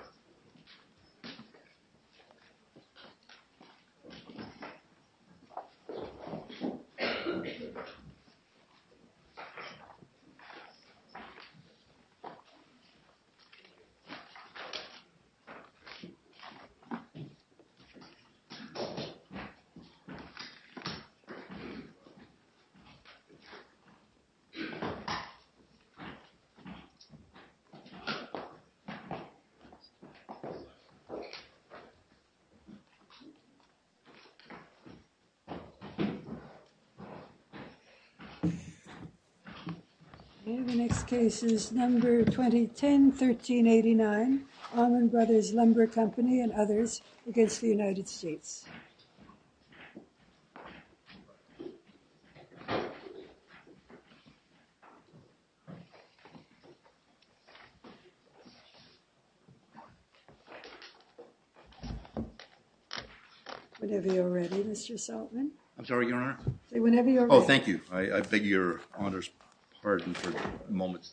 . The next case is number 2010-1389, Allman Brothers Lumber Company and others against the United States. Whenever you're ready, Mr. Saltman. Whenever you're ready. I'm sorry, Your Honor. Whenever you're ready. Oh, thank you. I beg your Honor's pardon for a moment.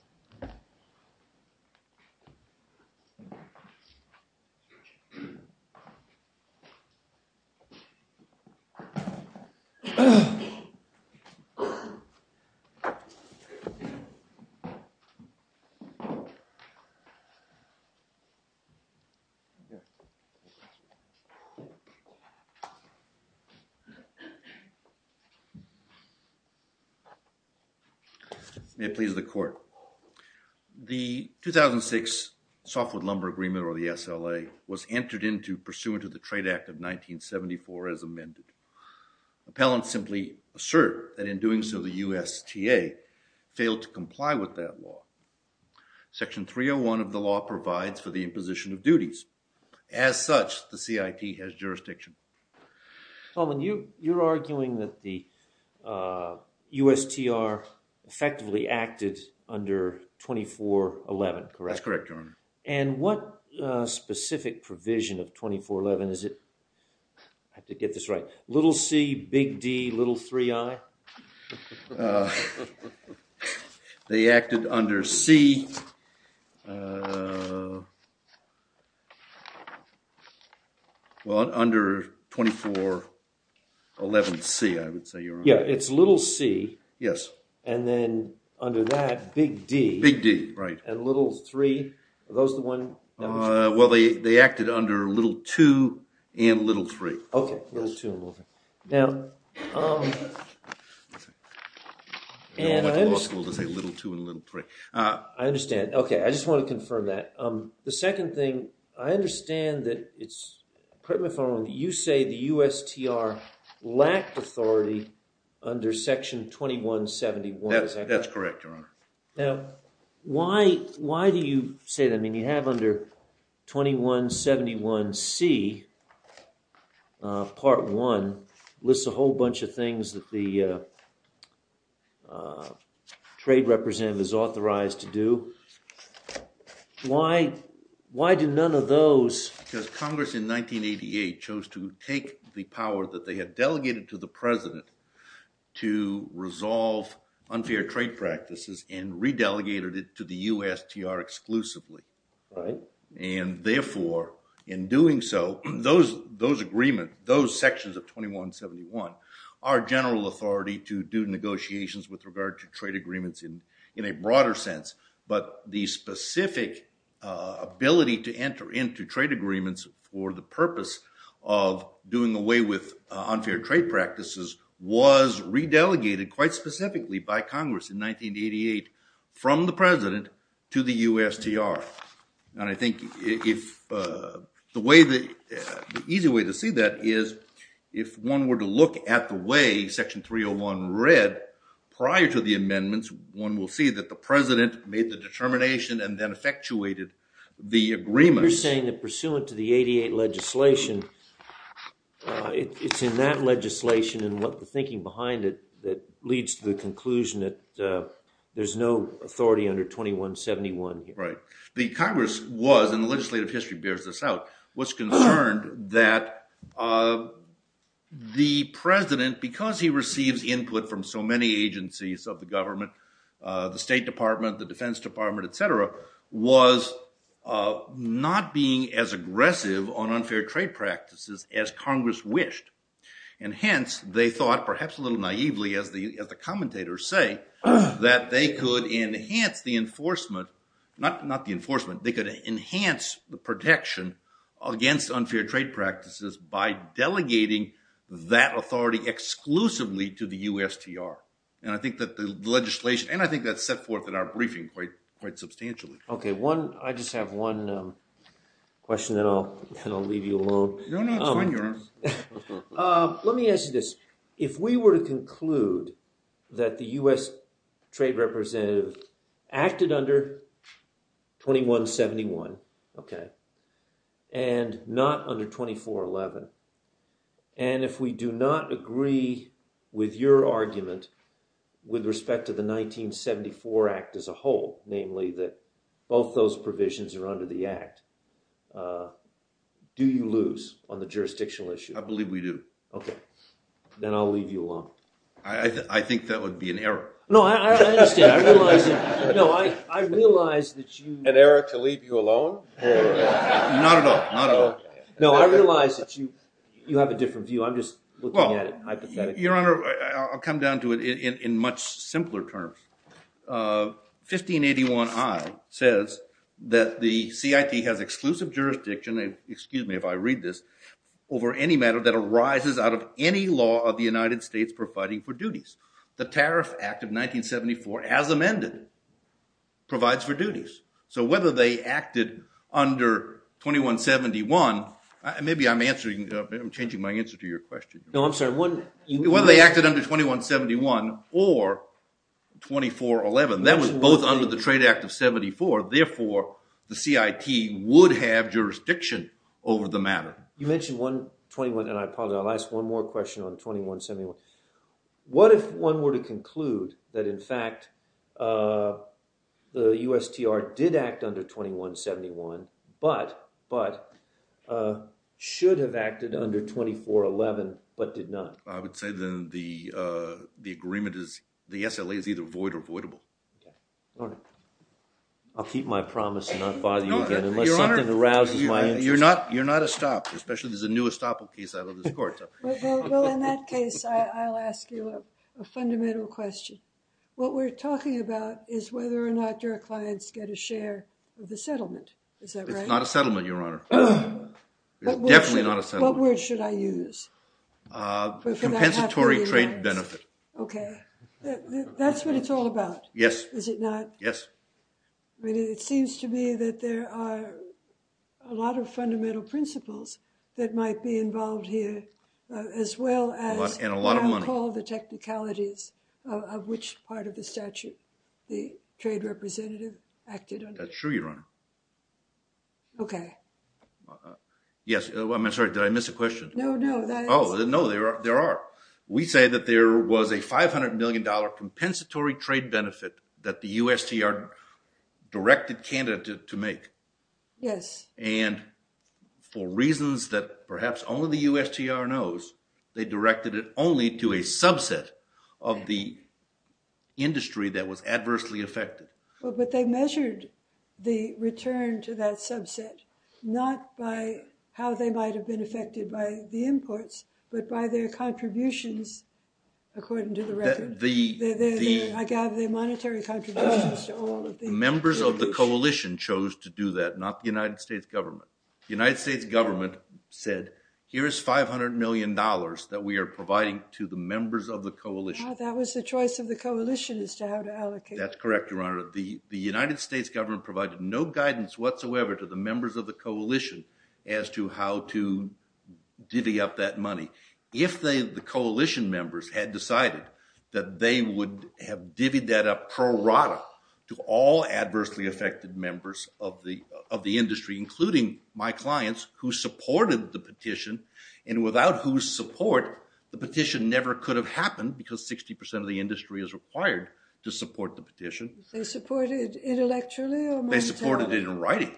May it please the court. The 2006 Softwood Lumber Agreement or the SLA was entered into pursuant to the Trade Act of 1974 as amended. Appellants simply assert that in doing so, the USTA failed to comply with that law. Section 301 of the law provides for the imposition of duties. As such, the CIT has jurisdiction. Allman, you're arguing that the USTR effectively acted under 2411, correct? That's correct, Your Honor. And what specific provision of 2411 is it? I have to get this right. Little c, big d, little 3i? They acted under c. Well, under 2411c, I would say, Your Honor. Yeah, it's little c. Yes. And then under that, big d. Big d, right. And little 3. Are those the ones? Well, they acted under little 2 and little 3. Okay, little 2 and little 3. Now, I understand. Okay, I just want to confirm that. The second thing, I understand that you say the USTR lacked authority under section 2171. That's correct, Your Honor. Now, why do you say that? I mean, you have under 2171c, part one, lists a whole bunch of things that the trade representative is authorized to do. Why do none of those? Because Congress in 1988 chose to take the power that they had delegated to the president to resolve unfair trade practices and re-delegated it to the USTR exclusively. Right. And therefore, in doing so, those agreements, those sections of 2171 are general authority to do negotiations with regard to trade agreements in a broader sense. But the specific ability to enter into trade agreements for the purpose of doing away with unfair trade practices was re-delegated quite specifically by Congress in 1988 from the president to the USTR. And I think the easy way to see that is if one were to look at the way section 301 read prior to the amendments, one will see that the president made the determination and then effectuated the agreement. But you're saying that pursuant to the 88 legislation, it's in that legislation and the thinking behind it that leads to the conclusion that there's no authority under 2171 here. Right. The Congress was, and the legislative history bears this out, was concerned that the president, because he receives input from so many agencies of the government, the State Department, the Defense Department, et cetera, was not being as aggressive on unfair trade practices as Congress wished. And hence, they thought, perhaps a little naively as the commentators say, that they could enhance the enforcement, not the enforcement, they could enhance the protection against unfair trade practices by delegating that authority exclusively to the USTR. And I think that the legislation, and I think that's set forth in our briefing quite substantially. Okay, one, I just have one question and then I'll leave you alone. Let me ask you this. If we were to conclude that the US Trade Representative acted under 2171, okay, and not under 2411, and if we do not agree with your argument with respect to the 1974 Act as a whole, namely that both those provisions are under the Act, do you lose? I believe we do. Okay, then I'll leave you alone. I think that would be an error. No, I understand. I realize that you… An error to leave you alone? Not at all, not at all. No, I realize that you have a different view. I'm just looking at it hypothetically. Your Honor, I'll come down to it in much simpler terms. 1581I says that the CIT has exclusive jurisdiction, excuse me if I read this, over any matter that arises out of any law of the United States providing for duties. The Tariff Act of 1974, as amended, provides for duties. So whether they acted under 2171, maybe I'm changing my answer to your question. No, I'm sorry. Whether they acted under 2171 or 2411, that was both under the Trade Act of 1974. Therefore, the CIT would have jurisdiction over the matter. You mentioned 121, and I apologize. I'll ask one more question on 2171. What if one were to conclude that, in fact, the USTR did act under 2171, but should have acted under 2411, but did not? I would say then the agreement is, the SLA is either void or voidable. Okay. Your Honor, I'll keep my promise and not bother you again unless something arouses my interest. You're not estopped, especially there's a new estoppel case out of this court. Well, in that case, I'll ask you a fundamental question. What we're talking about is whether or not your clients get a share of the settlement. Is that right? It's not a settlement, Your Honor. It's definitely not a settlement. What word should I use? Compensatory trade benefit. Okay. That's what it's all about. Yes. Is it not? Yes. It seems to me that there are a lot of fundamental principles that might be involved here, as well as what I would call the technicalities of which part of the statute the trade representative acted under. That's true, Your Honor. Okay. Yes. I'm sorry. Did I miss a question? No, no. Oh, no, there are. We say that there was a $500 million compensatory trade benefit that the USTR directed Canada to make. Yes. And for reasons that perhaps only the USTR knows, they directed it only to a subset of the industry that was adversely affected. Well, but they measured the return to that subset not by how they might have been affected by the imports, but by their contributions, according to the record. I gather their monetary contributions to all of them. The members of the coalition chose to do that, not the United States government. The United States government said, here is $500 million that we are providing to the members of the coalition. That was the choice of the coalition as to how to allocate it. That's correct, Your Honor. The United States government provided no guidance whatsoever to the members of the coalition as to how to divvy up that money. If the coalition members had decided that they would have divvied that up pro rata to all adversely affected members of the industry, including my clients who supported the petition, and without whose support the petition never could have happened because 60% of the industry is required to support the petition. They supported it intellectually or monetarily?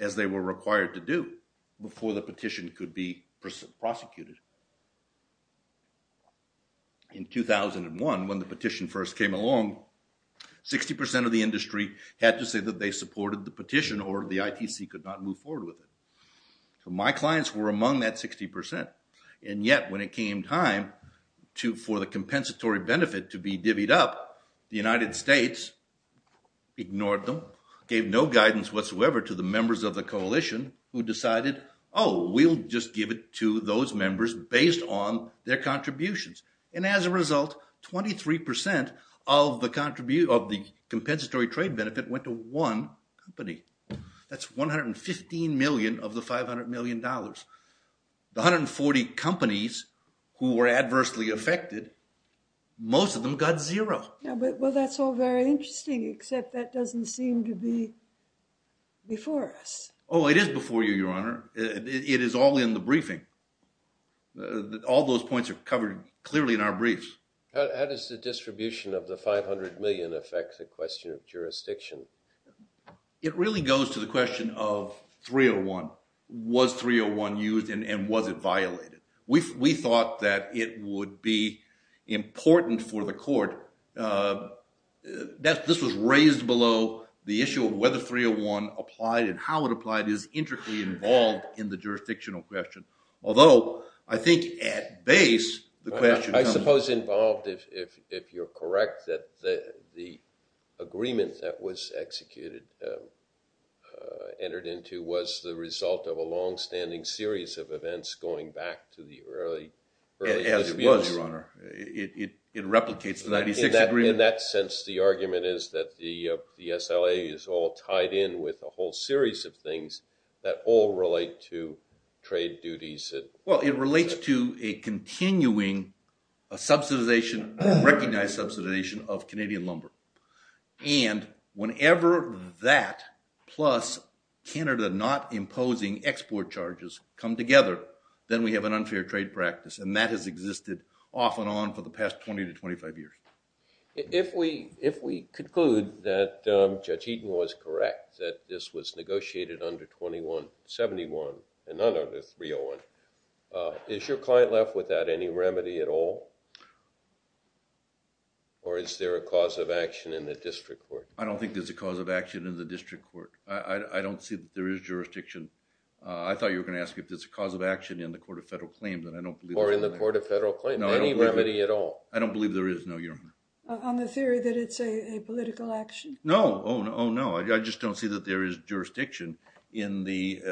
As they were required to do before the petition could be prosecuted. In 2001, when the petition first came along, 60% of the industry had to say that they supported the petition or the ITC could not move forward with it. So my clients were among that 60%. And yet when it came time for the compensatory benefit to be divvied up, the United States ignored them, gave no guidance whatsoever to the members of the coalition who decided, oh, we'll just give it to those members based on their contributions. And as a result, 23% of the compensatory trade benefit went to one company. That's $115 million of the $500 million. The 140 companies who were adversely affected, most of them got zero. Well, that's all very interesting, except that doesn't seem to be before us. Oh, it is before you, Your Honor. It is all in the briefing. All those points are covered clearly in our briefs. How does the distribution of the $500 million affect the question of jurisdiction? It really goes to the question of 301. Was 301 used and was it violated? We thought that it would be important for the court. This was raised below the issue of whether 301 applied and how it applied is intricately involved in the jurisdictional question. Although, I think at base, the question comes... I suppose involved, if you're correct, that the agreement that was executed, entered into, was the result of a longstanding series of events going back to the early... As it was, Your Honor. It replicates the 96 agreement. In that sense, the argument is that the SLA is all tied in with a whole series of things that all relate to trade duties. Well, it relates to a continuing subsidization, recognized subsidization of Canadian lumber. And whenever that plus Canada not imposing export charges come together, then we have an unfair trade practice. And that has existed off and on for the past 20 to 25 years. If we conclude that Judge Eaton was correct, that this was negotiated under 2171 and not under 301, is your client left without any remedy at all? Or is there a cause of action in the district court? I don't think there's a cause of action in the district court. I don't see that there is jurisdiction. I thought you were going to ask if there's a cause of action in the Court of Federal Claims. Or in the Court of Federal Claims. Any remedy at all? I don't believe there is, no, Your Honor. On the theory that it's a political action? No. Oh, no. I just don't see that there is jurisdiction in the...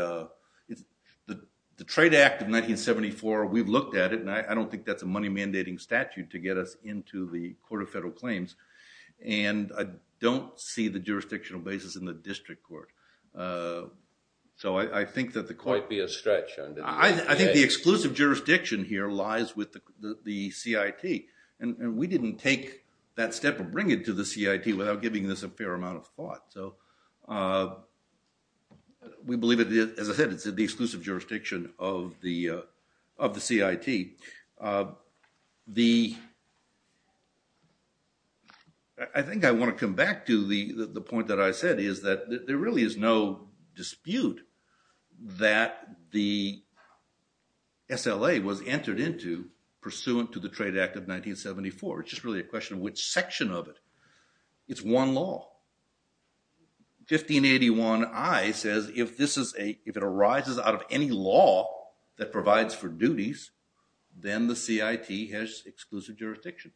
The Trade Act of 1974, we've looked at it, and I don't think that's a money-mandating statute to get us into the Court of Federal Claims. And I don't see the jurisdictional basis in the district court. So I think that the court... It might be a stretch. I think the exclusive jurisdiction here lies with the CIT. And we didn't take that step of bringing it to the CIT without giving this a fair amount of thought. We believe, as I said, it's in the exclusive jurisdiction of the CIT. The... I think I want to come back to the point that I said, is that there really is no dispute that the SLA was entered into pursuant to the Trade Act of 1974. It's just really a question of which section of it. It's one law. 1581I says, if this is a... If it arises out of any law that provides for duties, then the CIT has exclusive jurisdiction.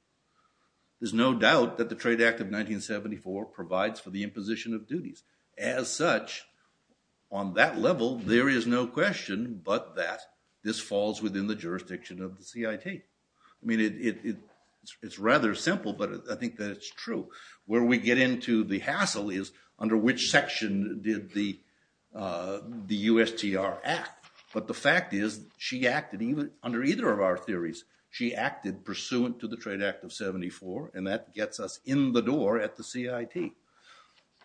There's no doubt that the Trade Act of 1974 provides for the imposition of duties. As such, on that level, there is no question but that this falls within the jurisdiction of the CIT. I mean, it's rather simple, but I think that it's true. Where we get into the hassle is under which section did the USTR act? But the fact is, she acted under either of our theories. She acted pursuant to the Trade Act of 1974, and that gets us in the door at the CIT.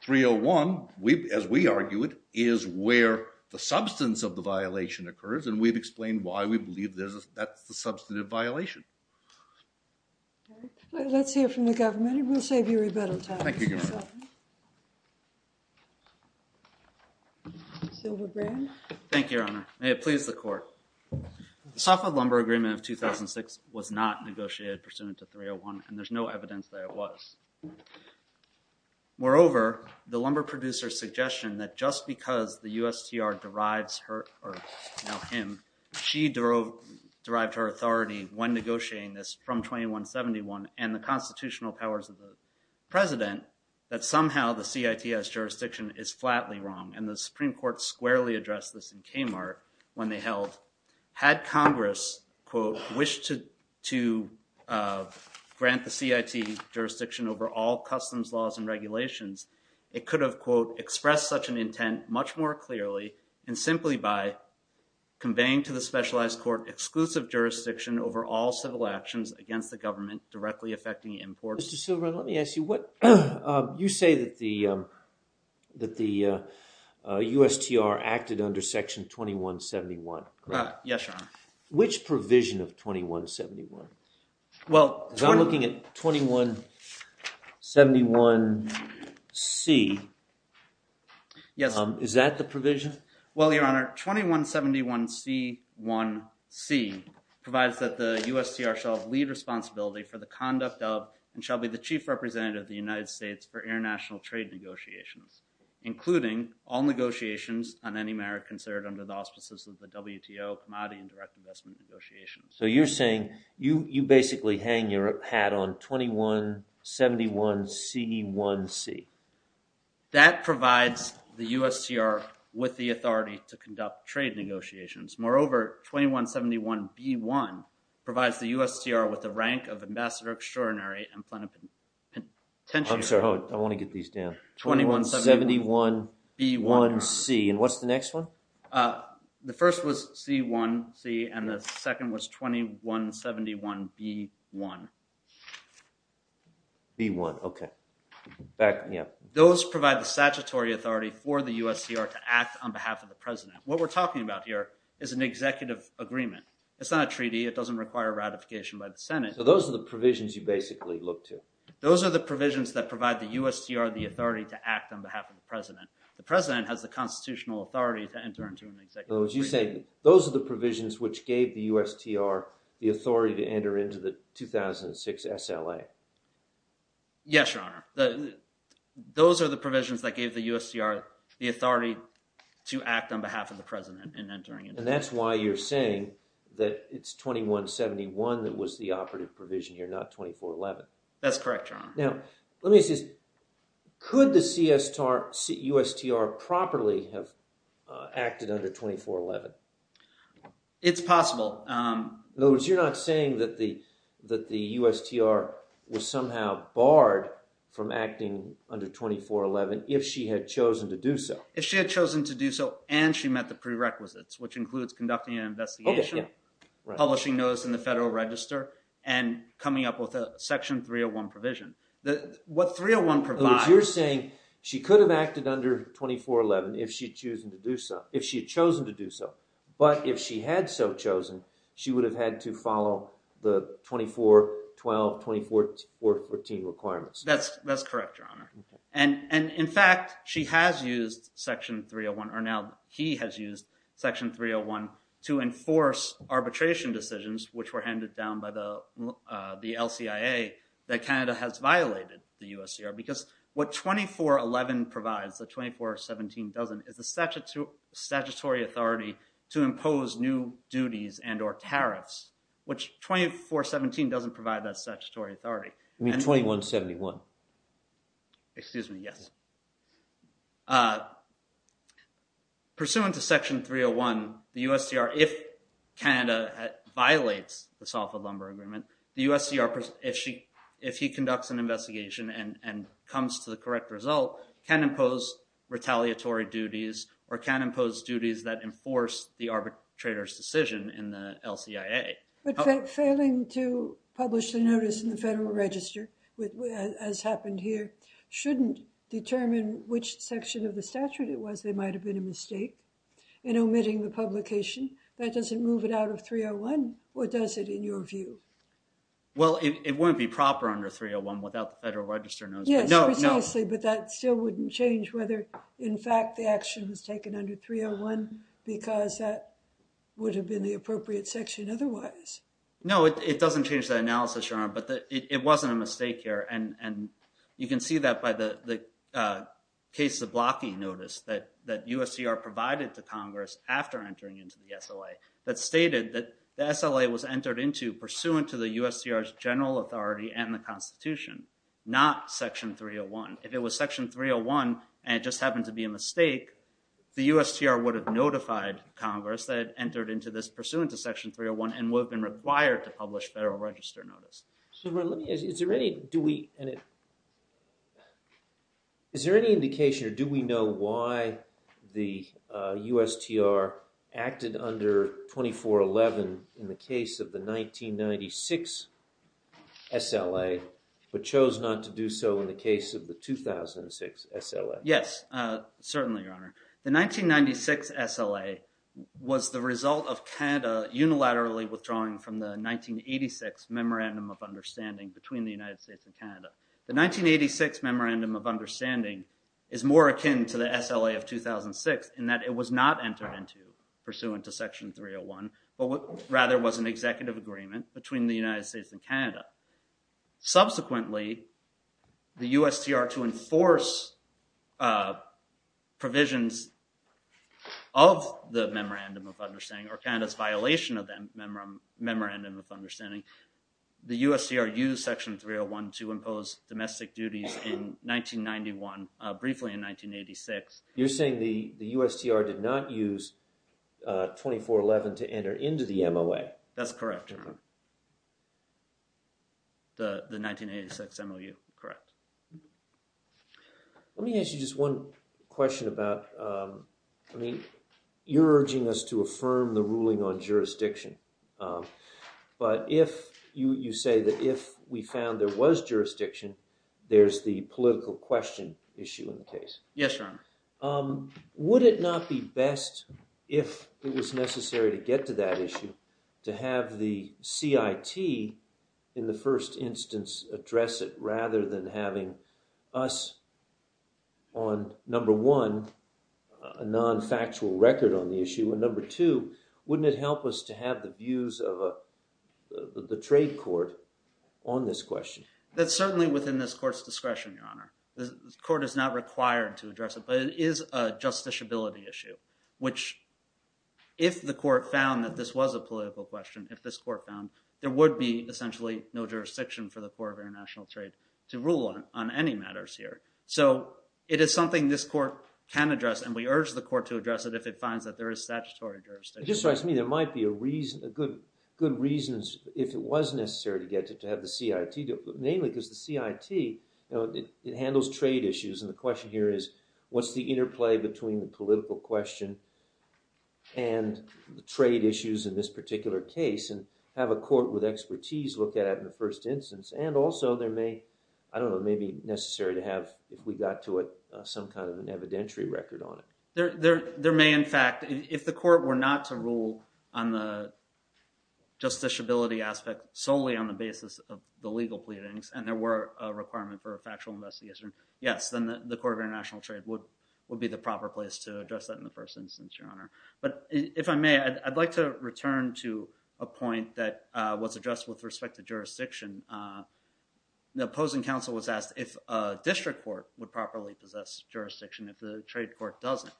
301, as we argue it, is where the substance of the violation occurs, and we've explained why we believe that's the substantive violation. Let's hear from the government, and we'll save you rebuttal time. Thank you, Your Honor. May it please the Court. The Suffolk Lumber Agreement of 2006 was not negotiated pursuant to 301, and there's no evidence that it was. Moreover, the lumber producer's suggestion that just because the USTR derives her, or now him, she derived her authority when negotiating this from 2171 and the constitutional powers of the President, that somehow the CIT's jurisdiction is flatly wrong, and the Supreme Court squarely addressed this in Kmart when they held, had Congress, quote, wished to grant the CIT jurisdiction over all customs laws and regulations, it could have, quote, expressed such an intent much more clearly and simply by conveying to the specialized court exclusive jurisdiction over all civil actions against the government directly affecting imports. Mr. Silverman, let me ask you, you say that the USTR acted under Section 2171, correct? Yes, Your Honor. Which provision of 2171? Well, 21… Because I'm looking at 2171C. Yes. Is that the provision? Well, Your Honor, 2171C1C provides that the USTR shall have lead responsibility for the conduct of and shall be the chief representative of the United States for international trade negotiations, including all negotiations on any merit considered under the auspices of the WTO commodity and direct investment negotiations. So you're saying you basically hang your hat on 2171C1C. That provides the USTR with the authority to conduct trade negotiations. Moreover, 2171B1 provides the USTR with the rank of Ambassador Extraordinary and Plenipotentiary. I'm sorry, I want to get these down. 2171B1C. And what's the next one? The first was C1C and the second was 2171B1. B1, okay. Those provide the statutory authority for the USTR to act on behalf of the President. What we're talking about here is an executive agreement. It's not a treaty. It doesn't require ratification by the Senate. So those are the provisions you basically look to. Those are the provisions that provide the USTR the authority to act on behalf of the President. The President has the constitutional authority to enter into an executive agreement. In other words, you're saying those are the provisions which gave the USTR the authority to enter into the 2006 SLA. Yes, Your Honor. Those are the provisions that gave the USTR the authority to act on behalf of the President. And that's why you're saying that it's 2171 that was the operative provision here, not 2411. That's correct, Your Honor. Now, let me ask you this. Could the USTR properly have acted under 2411? It's possible. In other words, you're not saying that the USTR was somehow barred from acting under 2411 if she had chosen to do so. If she had chosen to do so and she met the prerequisites, which includes conducting an investigation, publishing notice in the Federal Register, and coming up with a Section 301 provision. What 301 provides— In other words, you're saying she could have acted under 2411 if she had chosen to do so. But if she had so chosen, she would have had to follow the 2412, 2414 requirements. That's correct, Your Honor. In fact, she has used Section 301, or now he has used Section 301, to enforce arbitration decisions, which were handed down by the LCIA, that Canada has violated the USTR. Because what 2411 provides, the 2417 doesn't, is the statutory authority to impose new duties and or tariffs, which 2417 doesn't provide that statutory authority. You mean 2171? Excuse me, yes. Pursuant to Section 301, the USTR, if Canada violates the Salford Lumber Agreement, the USTR, if he conducts an investigation and comes to the correct result, can impose retaliatory duties or can impose duties that enforce the arbitrator's decision in the LCIA. But failing to publish the notice in the Federal Register, as happened here, shouldn't determine which section of the statute it was there might have been a mistake in omitting the publication. That doesn't move it out of 301, or does it, in your view? Well, it wouldn't be proper under 301 without the Federal Register notice. Yes, precisely, but that still wouldn't change whether, in fact, the action was taken under 301, because that would have been the appropriate section otherwise. No, it doesn't change that analysis, Your Honor, but it wasn't a mistake here. And you can see that by the cases of blocking notice that USTR provided to Congress after entering into the SLA that stated that the SLA was entered into pursuant to the USTR's general authority and the Constitution, not Section 301. If it was Section 301 and it just happened to be a mistake, the USTR would have notified Congress that it entered into this pursuant to Section 301 and would have been required to publish Federal Register notice. Is there any indication or do we know why the USTR acted under 2411 in the case of the 1996 SLA but chose not to do so in the case of the 2006 SLA? Yes, certainly, Your Honor. The 1996 SLA was the result of Canada unilaterally withdrawing from the 1986 Memorandum of Understanding between the United States and Canada. The 1986 Memorandum of Understanding is more akin to the SLA of 2006 in that it was not entered into pursuant to Section 301, but rather was an executive agreement between the United States and Canada. Subsequently, the USTR to enforce provisions of the Memorandum of Understanding or Canada's violation of the Memorandum of Understanding, the USTR used Section 301 to impose domestic duties in 1991, briefly in 1986. You're saying the USTR did not use 2411 to enter into the MOA. That's correct, Your Honor. The 1986 MOU, correct. Let me ask you just one question about, I mean, you're urging us to affirm the ruling on jurisdiction, but if you say that if we found there was jurisdiction, there's the political question issue in the case. Yes, Your Honor. Would it not be best if it was necessary to get to that issue to have the CIT in the first instance address it rather than having us on, number one, a non-factual record on the issue, and number two, wouldn't it help us to have the views of the trade court on this question? That's certainly within this court's discretion, Your Honor. The court is not required to address it, but it is a justiciability issue, which if the court found that this was a political question, if this court found, there would be essentially no jurisdiction for the Court of International Trade to rule on any matters here. So it is something this court can address, and we urge the court to address it if it finds that there is statutory jurisdiction. Just to ask me, there might be good reasons if it was necessary to get to have the CIT, mainly because the CIT handles trade issues, and the question here is, what's the interplay between the political question and the trade issues in this particular case, and have a court with expertise look at it in the first instance, and also there may, I don't know, it may be necessary to have, if we got to it, some kind of an evidentiary record on it. There may, in fact, if the court were not to rule on the justiciability aspect solely on the basis of the legal pleadings, and there were a requirement for a factual investigation, yes, then the Court of International Trade would be the proper place to address that in the first instance, Your Honor. But if I may, I'd like to return to a point that was addressed with respect to jurisdiction. The opposing counsel was asked if a district court would properly possess jurisdiction if the trade court doesn't,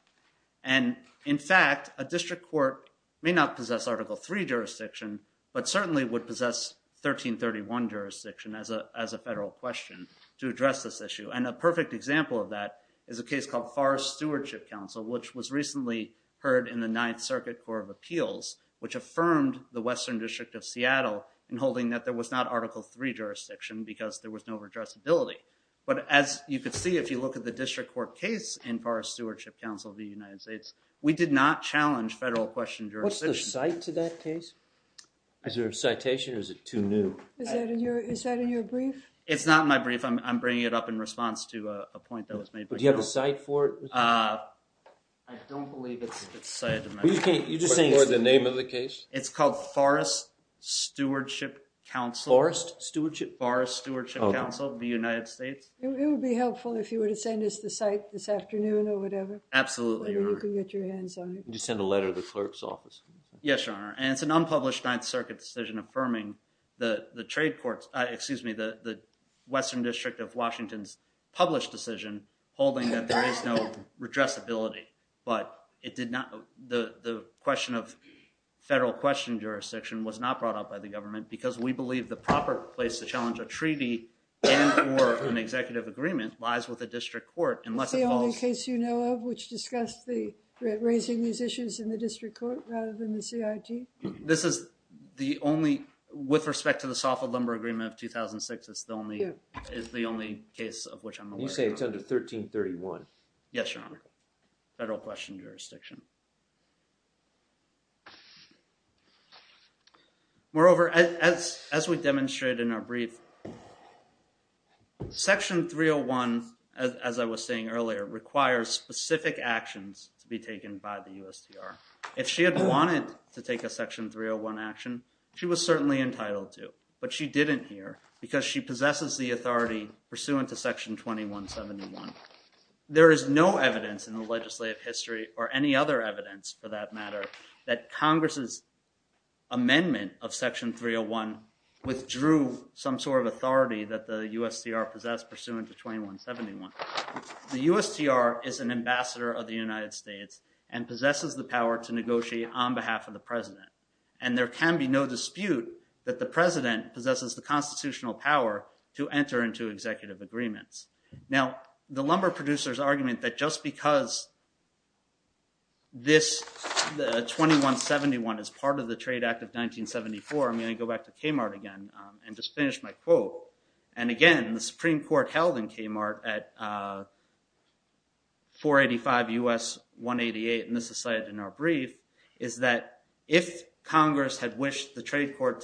and in fact, a district court may not possess Article III jurisdiction, but certainly would possess 1331 jurisdiction as a federal question to address this issue, and a perfect example of that is a case called Farr's Stewardship Council, which was recently heard in the Ninth Circuit Court of Appeals, which affirmed the Western District of Seattle in holding that there was not Article III jurisdiction, because there was no addressability. But as you could see, if you look at the district court case in Farr's Stewardship Council v. United States, we did not challenge federal question jurisdiction. What's the cite to that case? Is there a citation, or is it too new? Is that in your brief? It's not in my brief. I'm bringing it up in response to a point that was made. Do you have the cite for it? I don't believe it's cited. You're just saying for the name of the case? It's called Farr's Stewardship Council. Farr's? Farr's Stewardship Council v. United States. It would be helpful if you were to send us the cite this afternoon or whatever. Absolutely, Your Honor. You can get your hands on it. Just send a letter to the clerk's office. Yes, Your Honor. And it's an unpublished Ninth Circuit decision affirming the trade courts, excuse me, the Western District of Washington's published decision holding that there is no addressability, but it did not, the question of federal question jurisdiction was not brought up by the government because we believe the proper place to challenge a treaty and for an executive agreement lies with the district court unless it falls. Is this the only case you know of which discussed the raising these issues in the district court rather than the CIT? This is the only, with respect to the Soffit Lumber Agreement of 2006, it's the only case of which I'm aware. You say it's under 1331. Yes, Your Honor. Federal question jurisdiction. Moreover, as we demonstrated in our brief, Section 301, as I was saying earlier, requires specific actions to be taken by the USTR. If she had wanted to take a Section 301 action, she was certainly entitled to, but she didn't here because she possesses the authority pursuant to Section 2171. There is no evidence in the legislative history or any other evidence for that matter that Congress's amendment of Section 301 withdrew some sort of authority that the USTR possessed pursuant to 2171. The USTR is an ambassador of the United States and possesses the power to negotiate on behalf of the president and there can be no dispute that the president possesses the constitutional power to enter into executive agreements. Now, the lumber producers argument that just because this 2171 is part of the Trade Act of 1974, I'm going to go back to Kmart again and just finish my quote. And again, the Supreme Court held in Kmart at 485 U.S. 188, and this is cited in our brief, is that if Congress had wished the trade court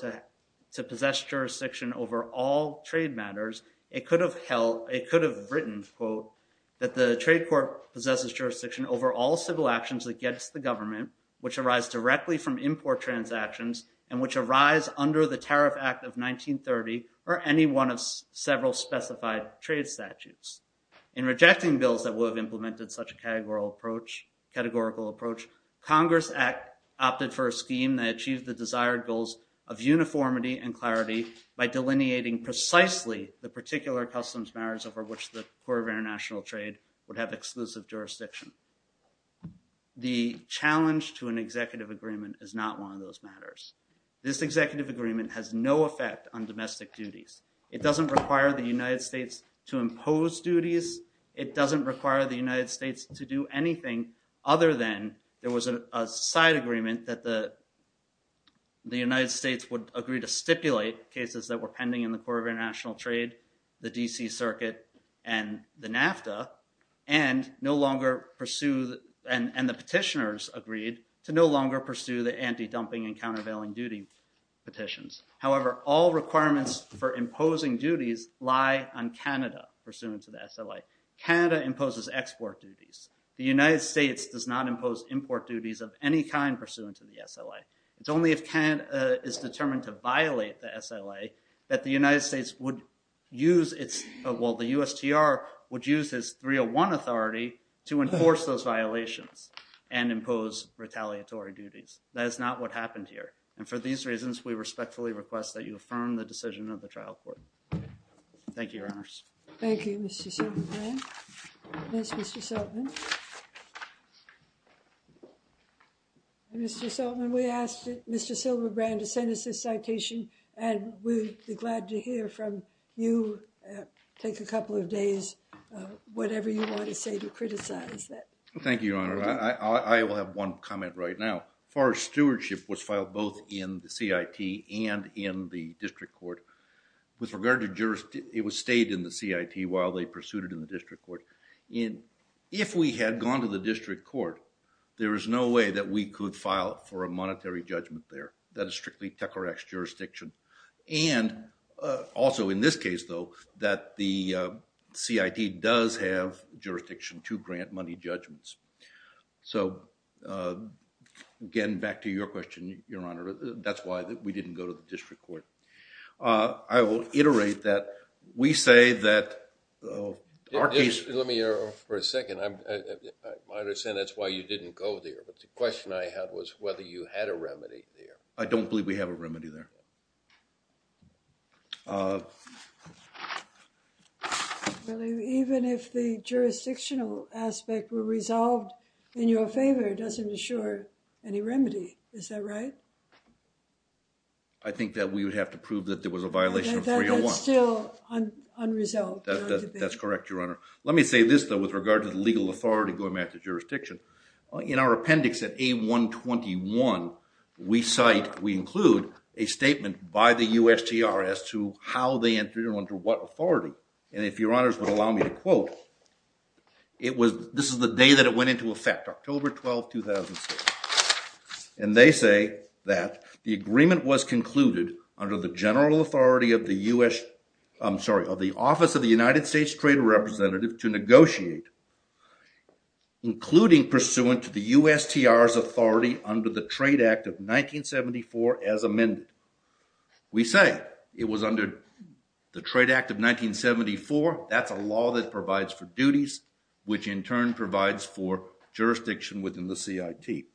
to possess jurisdiction over all trade matters, it could have written, quote, that the trade court possesses jurisdiction over all civil actions against the government, which arise directly from import transactions and which arise under the Tariff Act of 1930 or any one of several specified trade statutes. In rejecting bills that would have implemented such a categorical approach, Congress opted for a scheme that achieved the desired goals of uniformity and clarity by delineating precisely the particular customs matters over which the Court of International Trade would have exclusive jurisdiction. The challenge to an executive agreement is not one of those matters. This executive agreement has no effect on domestic duties. It doesn't require the United States to impose duties. It doesn't require the United States to do anything other than there was a side agreement that the United States would agree to stipulate cases that were pending in the Court of International Trade, the D.C. Circuit, and the NAFTA, and no longer pursue, and the petitioners agreed, to no longer pursue the anti-dumping and countervailing duty petitions. However, all requirements for imposing duties lie on Canada pursuant to the SLA. Canada imposes export duties. The United States does not impose import duties of any kind pursuant to the SLA. It's only if Canada is determined to violate the SLA that the United States would use its, well, the USTR would use its 301 authority to enforce those violations and impose retaliatory duties. That is not what happened here, and for these reasons, we respectfully request that you affirm the decision of the trial court. Thank you, Your Honors. Thank you, Mr. Silverbrand. Yes, Mr. Sultman. Mr. Sultman, we asked Mr. Silverbrand to send us this citation, and we'd be glad to hear from you, take a couple of days, whatever you want to say to criticize that. Thank you, Your Honor. I will have one comment right now. Forest stewardship was filed both in the CIT and in the district court. With regard to jurisdiction, it stayed in the CIT while they pursued it in the district court. If we had gone to the district court, there is no way that we could file for a monetary judgment there. That is strictly TECRAX jurisdiction. And also in this case, though, that the CIT does have jurisdiction to grant money judgments. So again, back to your question, Your Honor. That's why we didn't go to the district court. I will iterate that we say that our case— Let me interrupt for a second. I understand that's why you didn't go there, but the question I had was whether you had a remedy there. I don't believe we have a remedy there. Even if the jurisdictional aspect were resolved in your favor, it doesn't assure any remedy. Is that right? I think that we would have to prove that there was a violation of 301. That's still unresolved. That's correct, Your Honor. Let me say this, though, with regard to the legal authority going back to jurisdiction. In our appendix at A121, we include a statement by the USTR as to how they entered into what authority. And if Your Honors would allow me to quote, this is the day that it went into effect, October 12, 2006. And they say that the agreement was concluded under the office of the United States Trade Representative to negotiate, including pursuant to the USTR's authority under the Trade Act of 1974 as amended. We say it was under the Trade Act of 1974. That's a law that provides for duties, which in turn provides for jurisdiction within the CIT.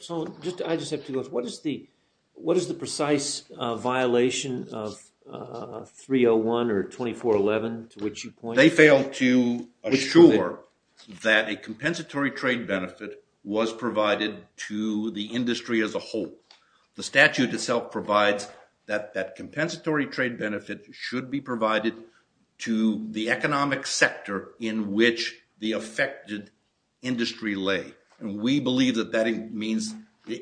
So I just have two questions. What is the precise violation of 301 or 2411 to which you point? They failed to assure that a compensatory trade benefit was provided to the industry as a whole. The statute itself provides that that compensatory trade benefit should be provided to the economic sector in which the affected industry lay. And we believe that that means,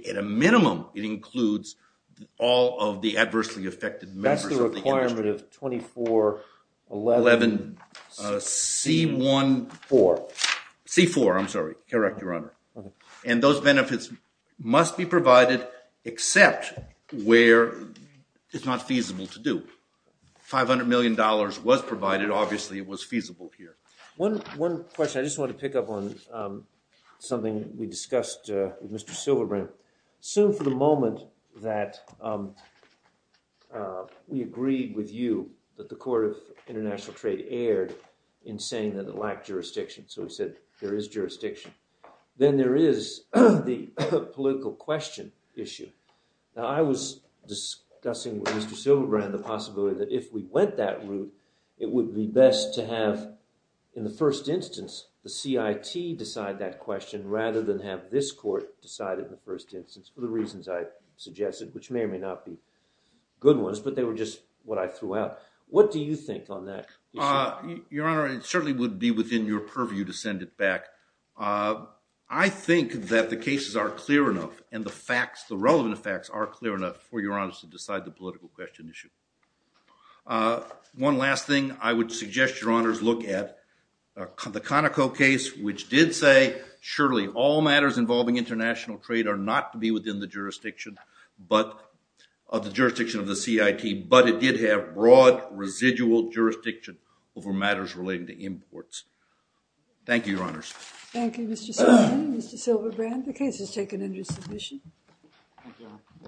at a minimum, it includes all of the adversely affected members of the industry. That's the requirement of 2411 C1-4. C-4, I'm sorry. Correct, Your Honor. And those benefits must be provided except where it's not feasible to do. $500 million was provided. Obviously, it was feasible here. One question. I just want to pick up on something we discussed with Mr. Silverbrand. Assume for the moment that we agreed with you that the Court of International Trade erred in saying that it lacked jurisdiction. So we said there is jurisdiction. Then there is the political question issue. Now, I was discussing with Mr. Silverbrand the possibility that if we went that route, it would be best to have, in the first instance, the CIT decide that question rather than have this court decide it in the first instance for the reasons I suggested, which may or may not be good ones. But they were just what I threw out. What do you think on that? Your Honor, it certainly would be within your purview to send it back. I think that the cases are clear enough and the facts, the relevant facts, are clear enough for Your Honor to decide the political question issue. One last thing I would suggest, Your Honors, look at the Conoco case, which did say, surely all matters involving international trade are not to be within the jurisdiction of the CIT. But it did have broad residual jurisdiction over matters relating to imports. Thank you, Your Honors. Thank you, Mr. Silverbrand. The case is taken under submission.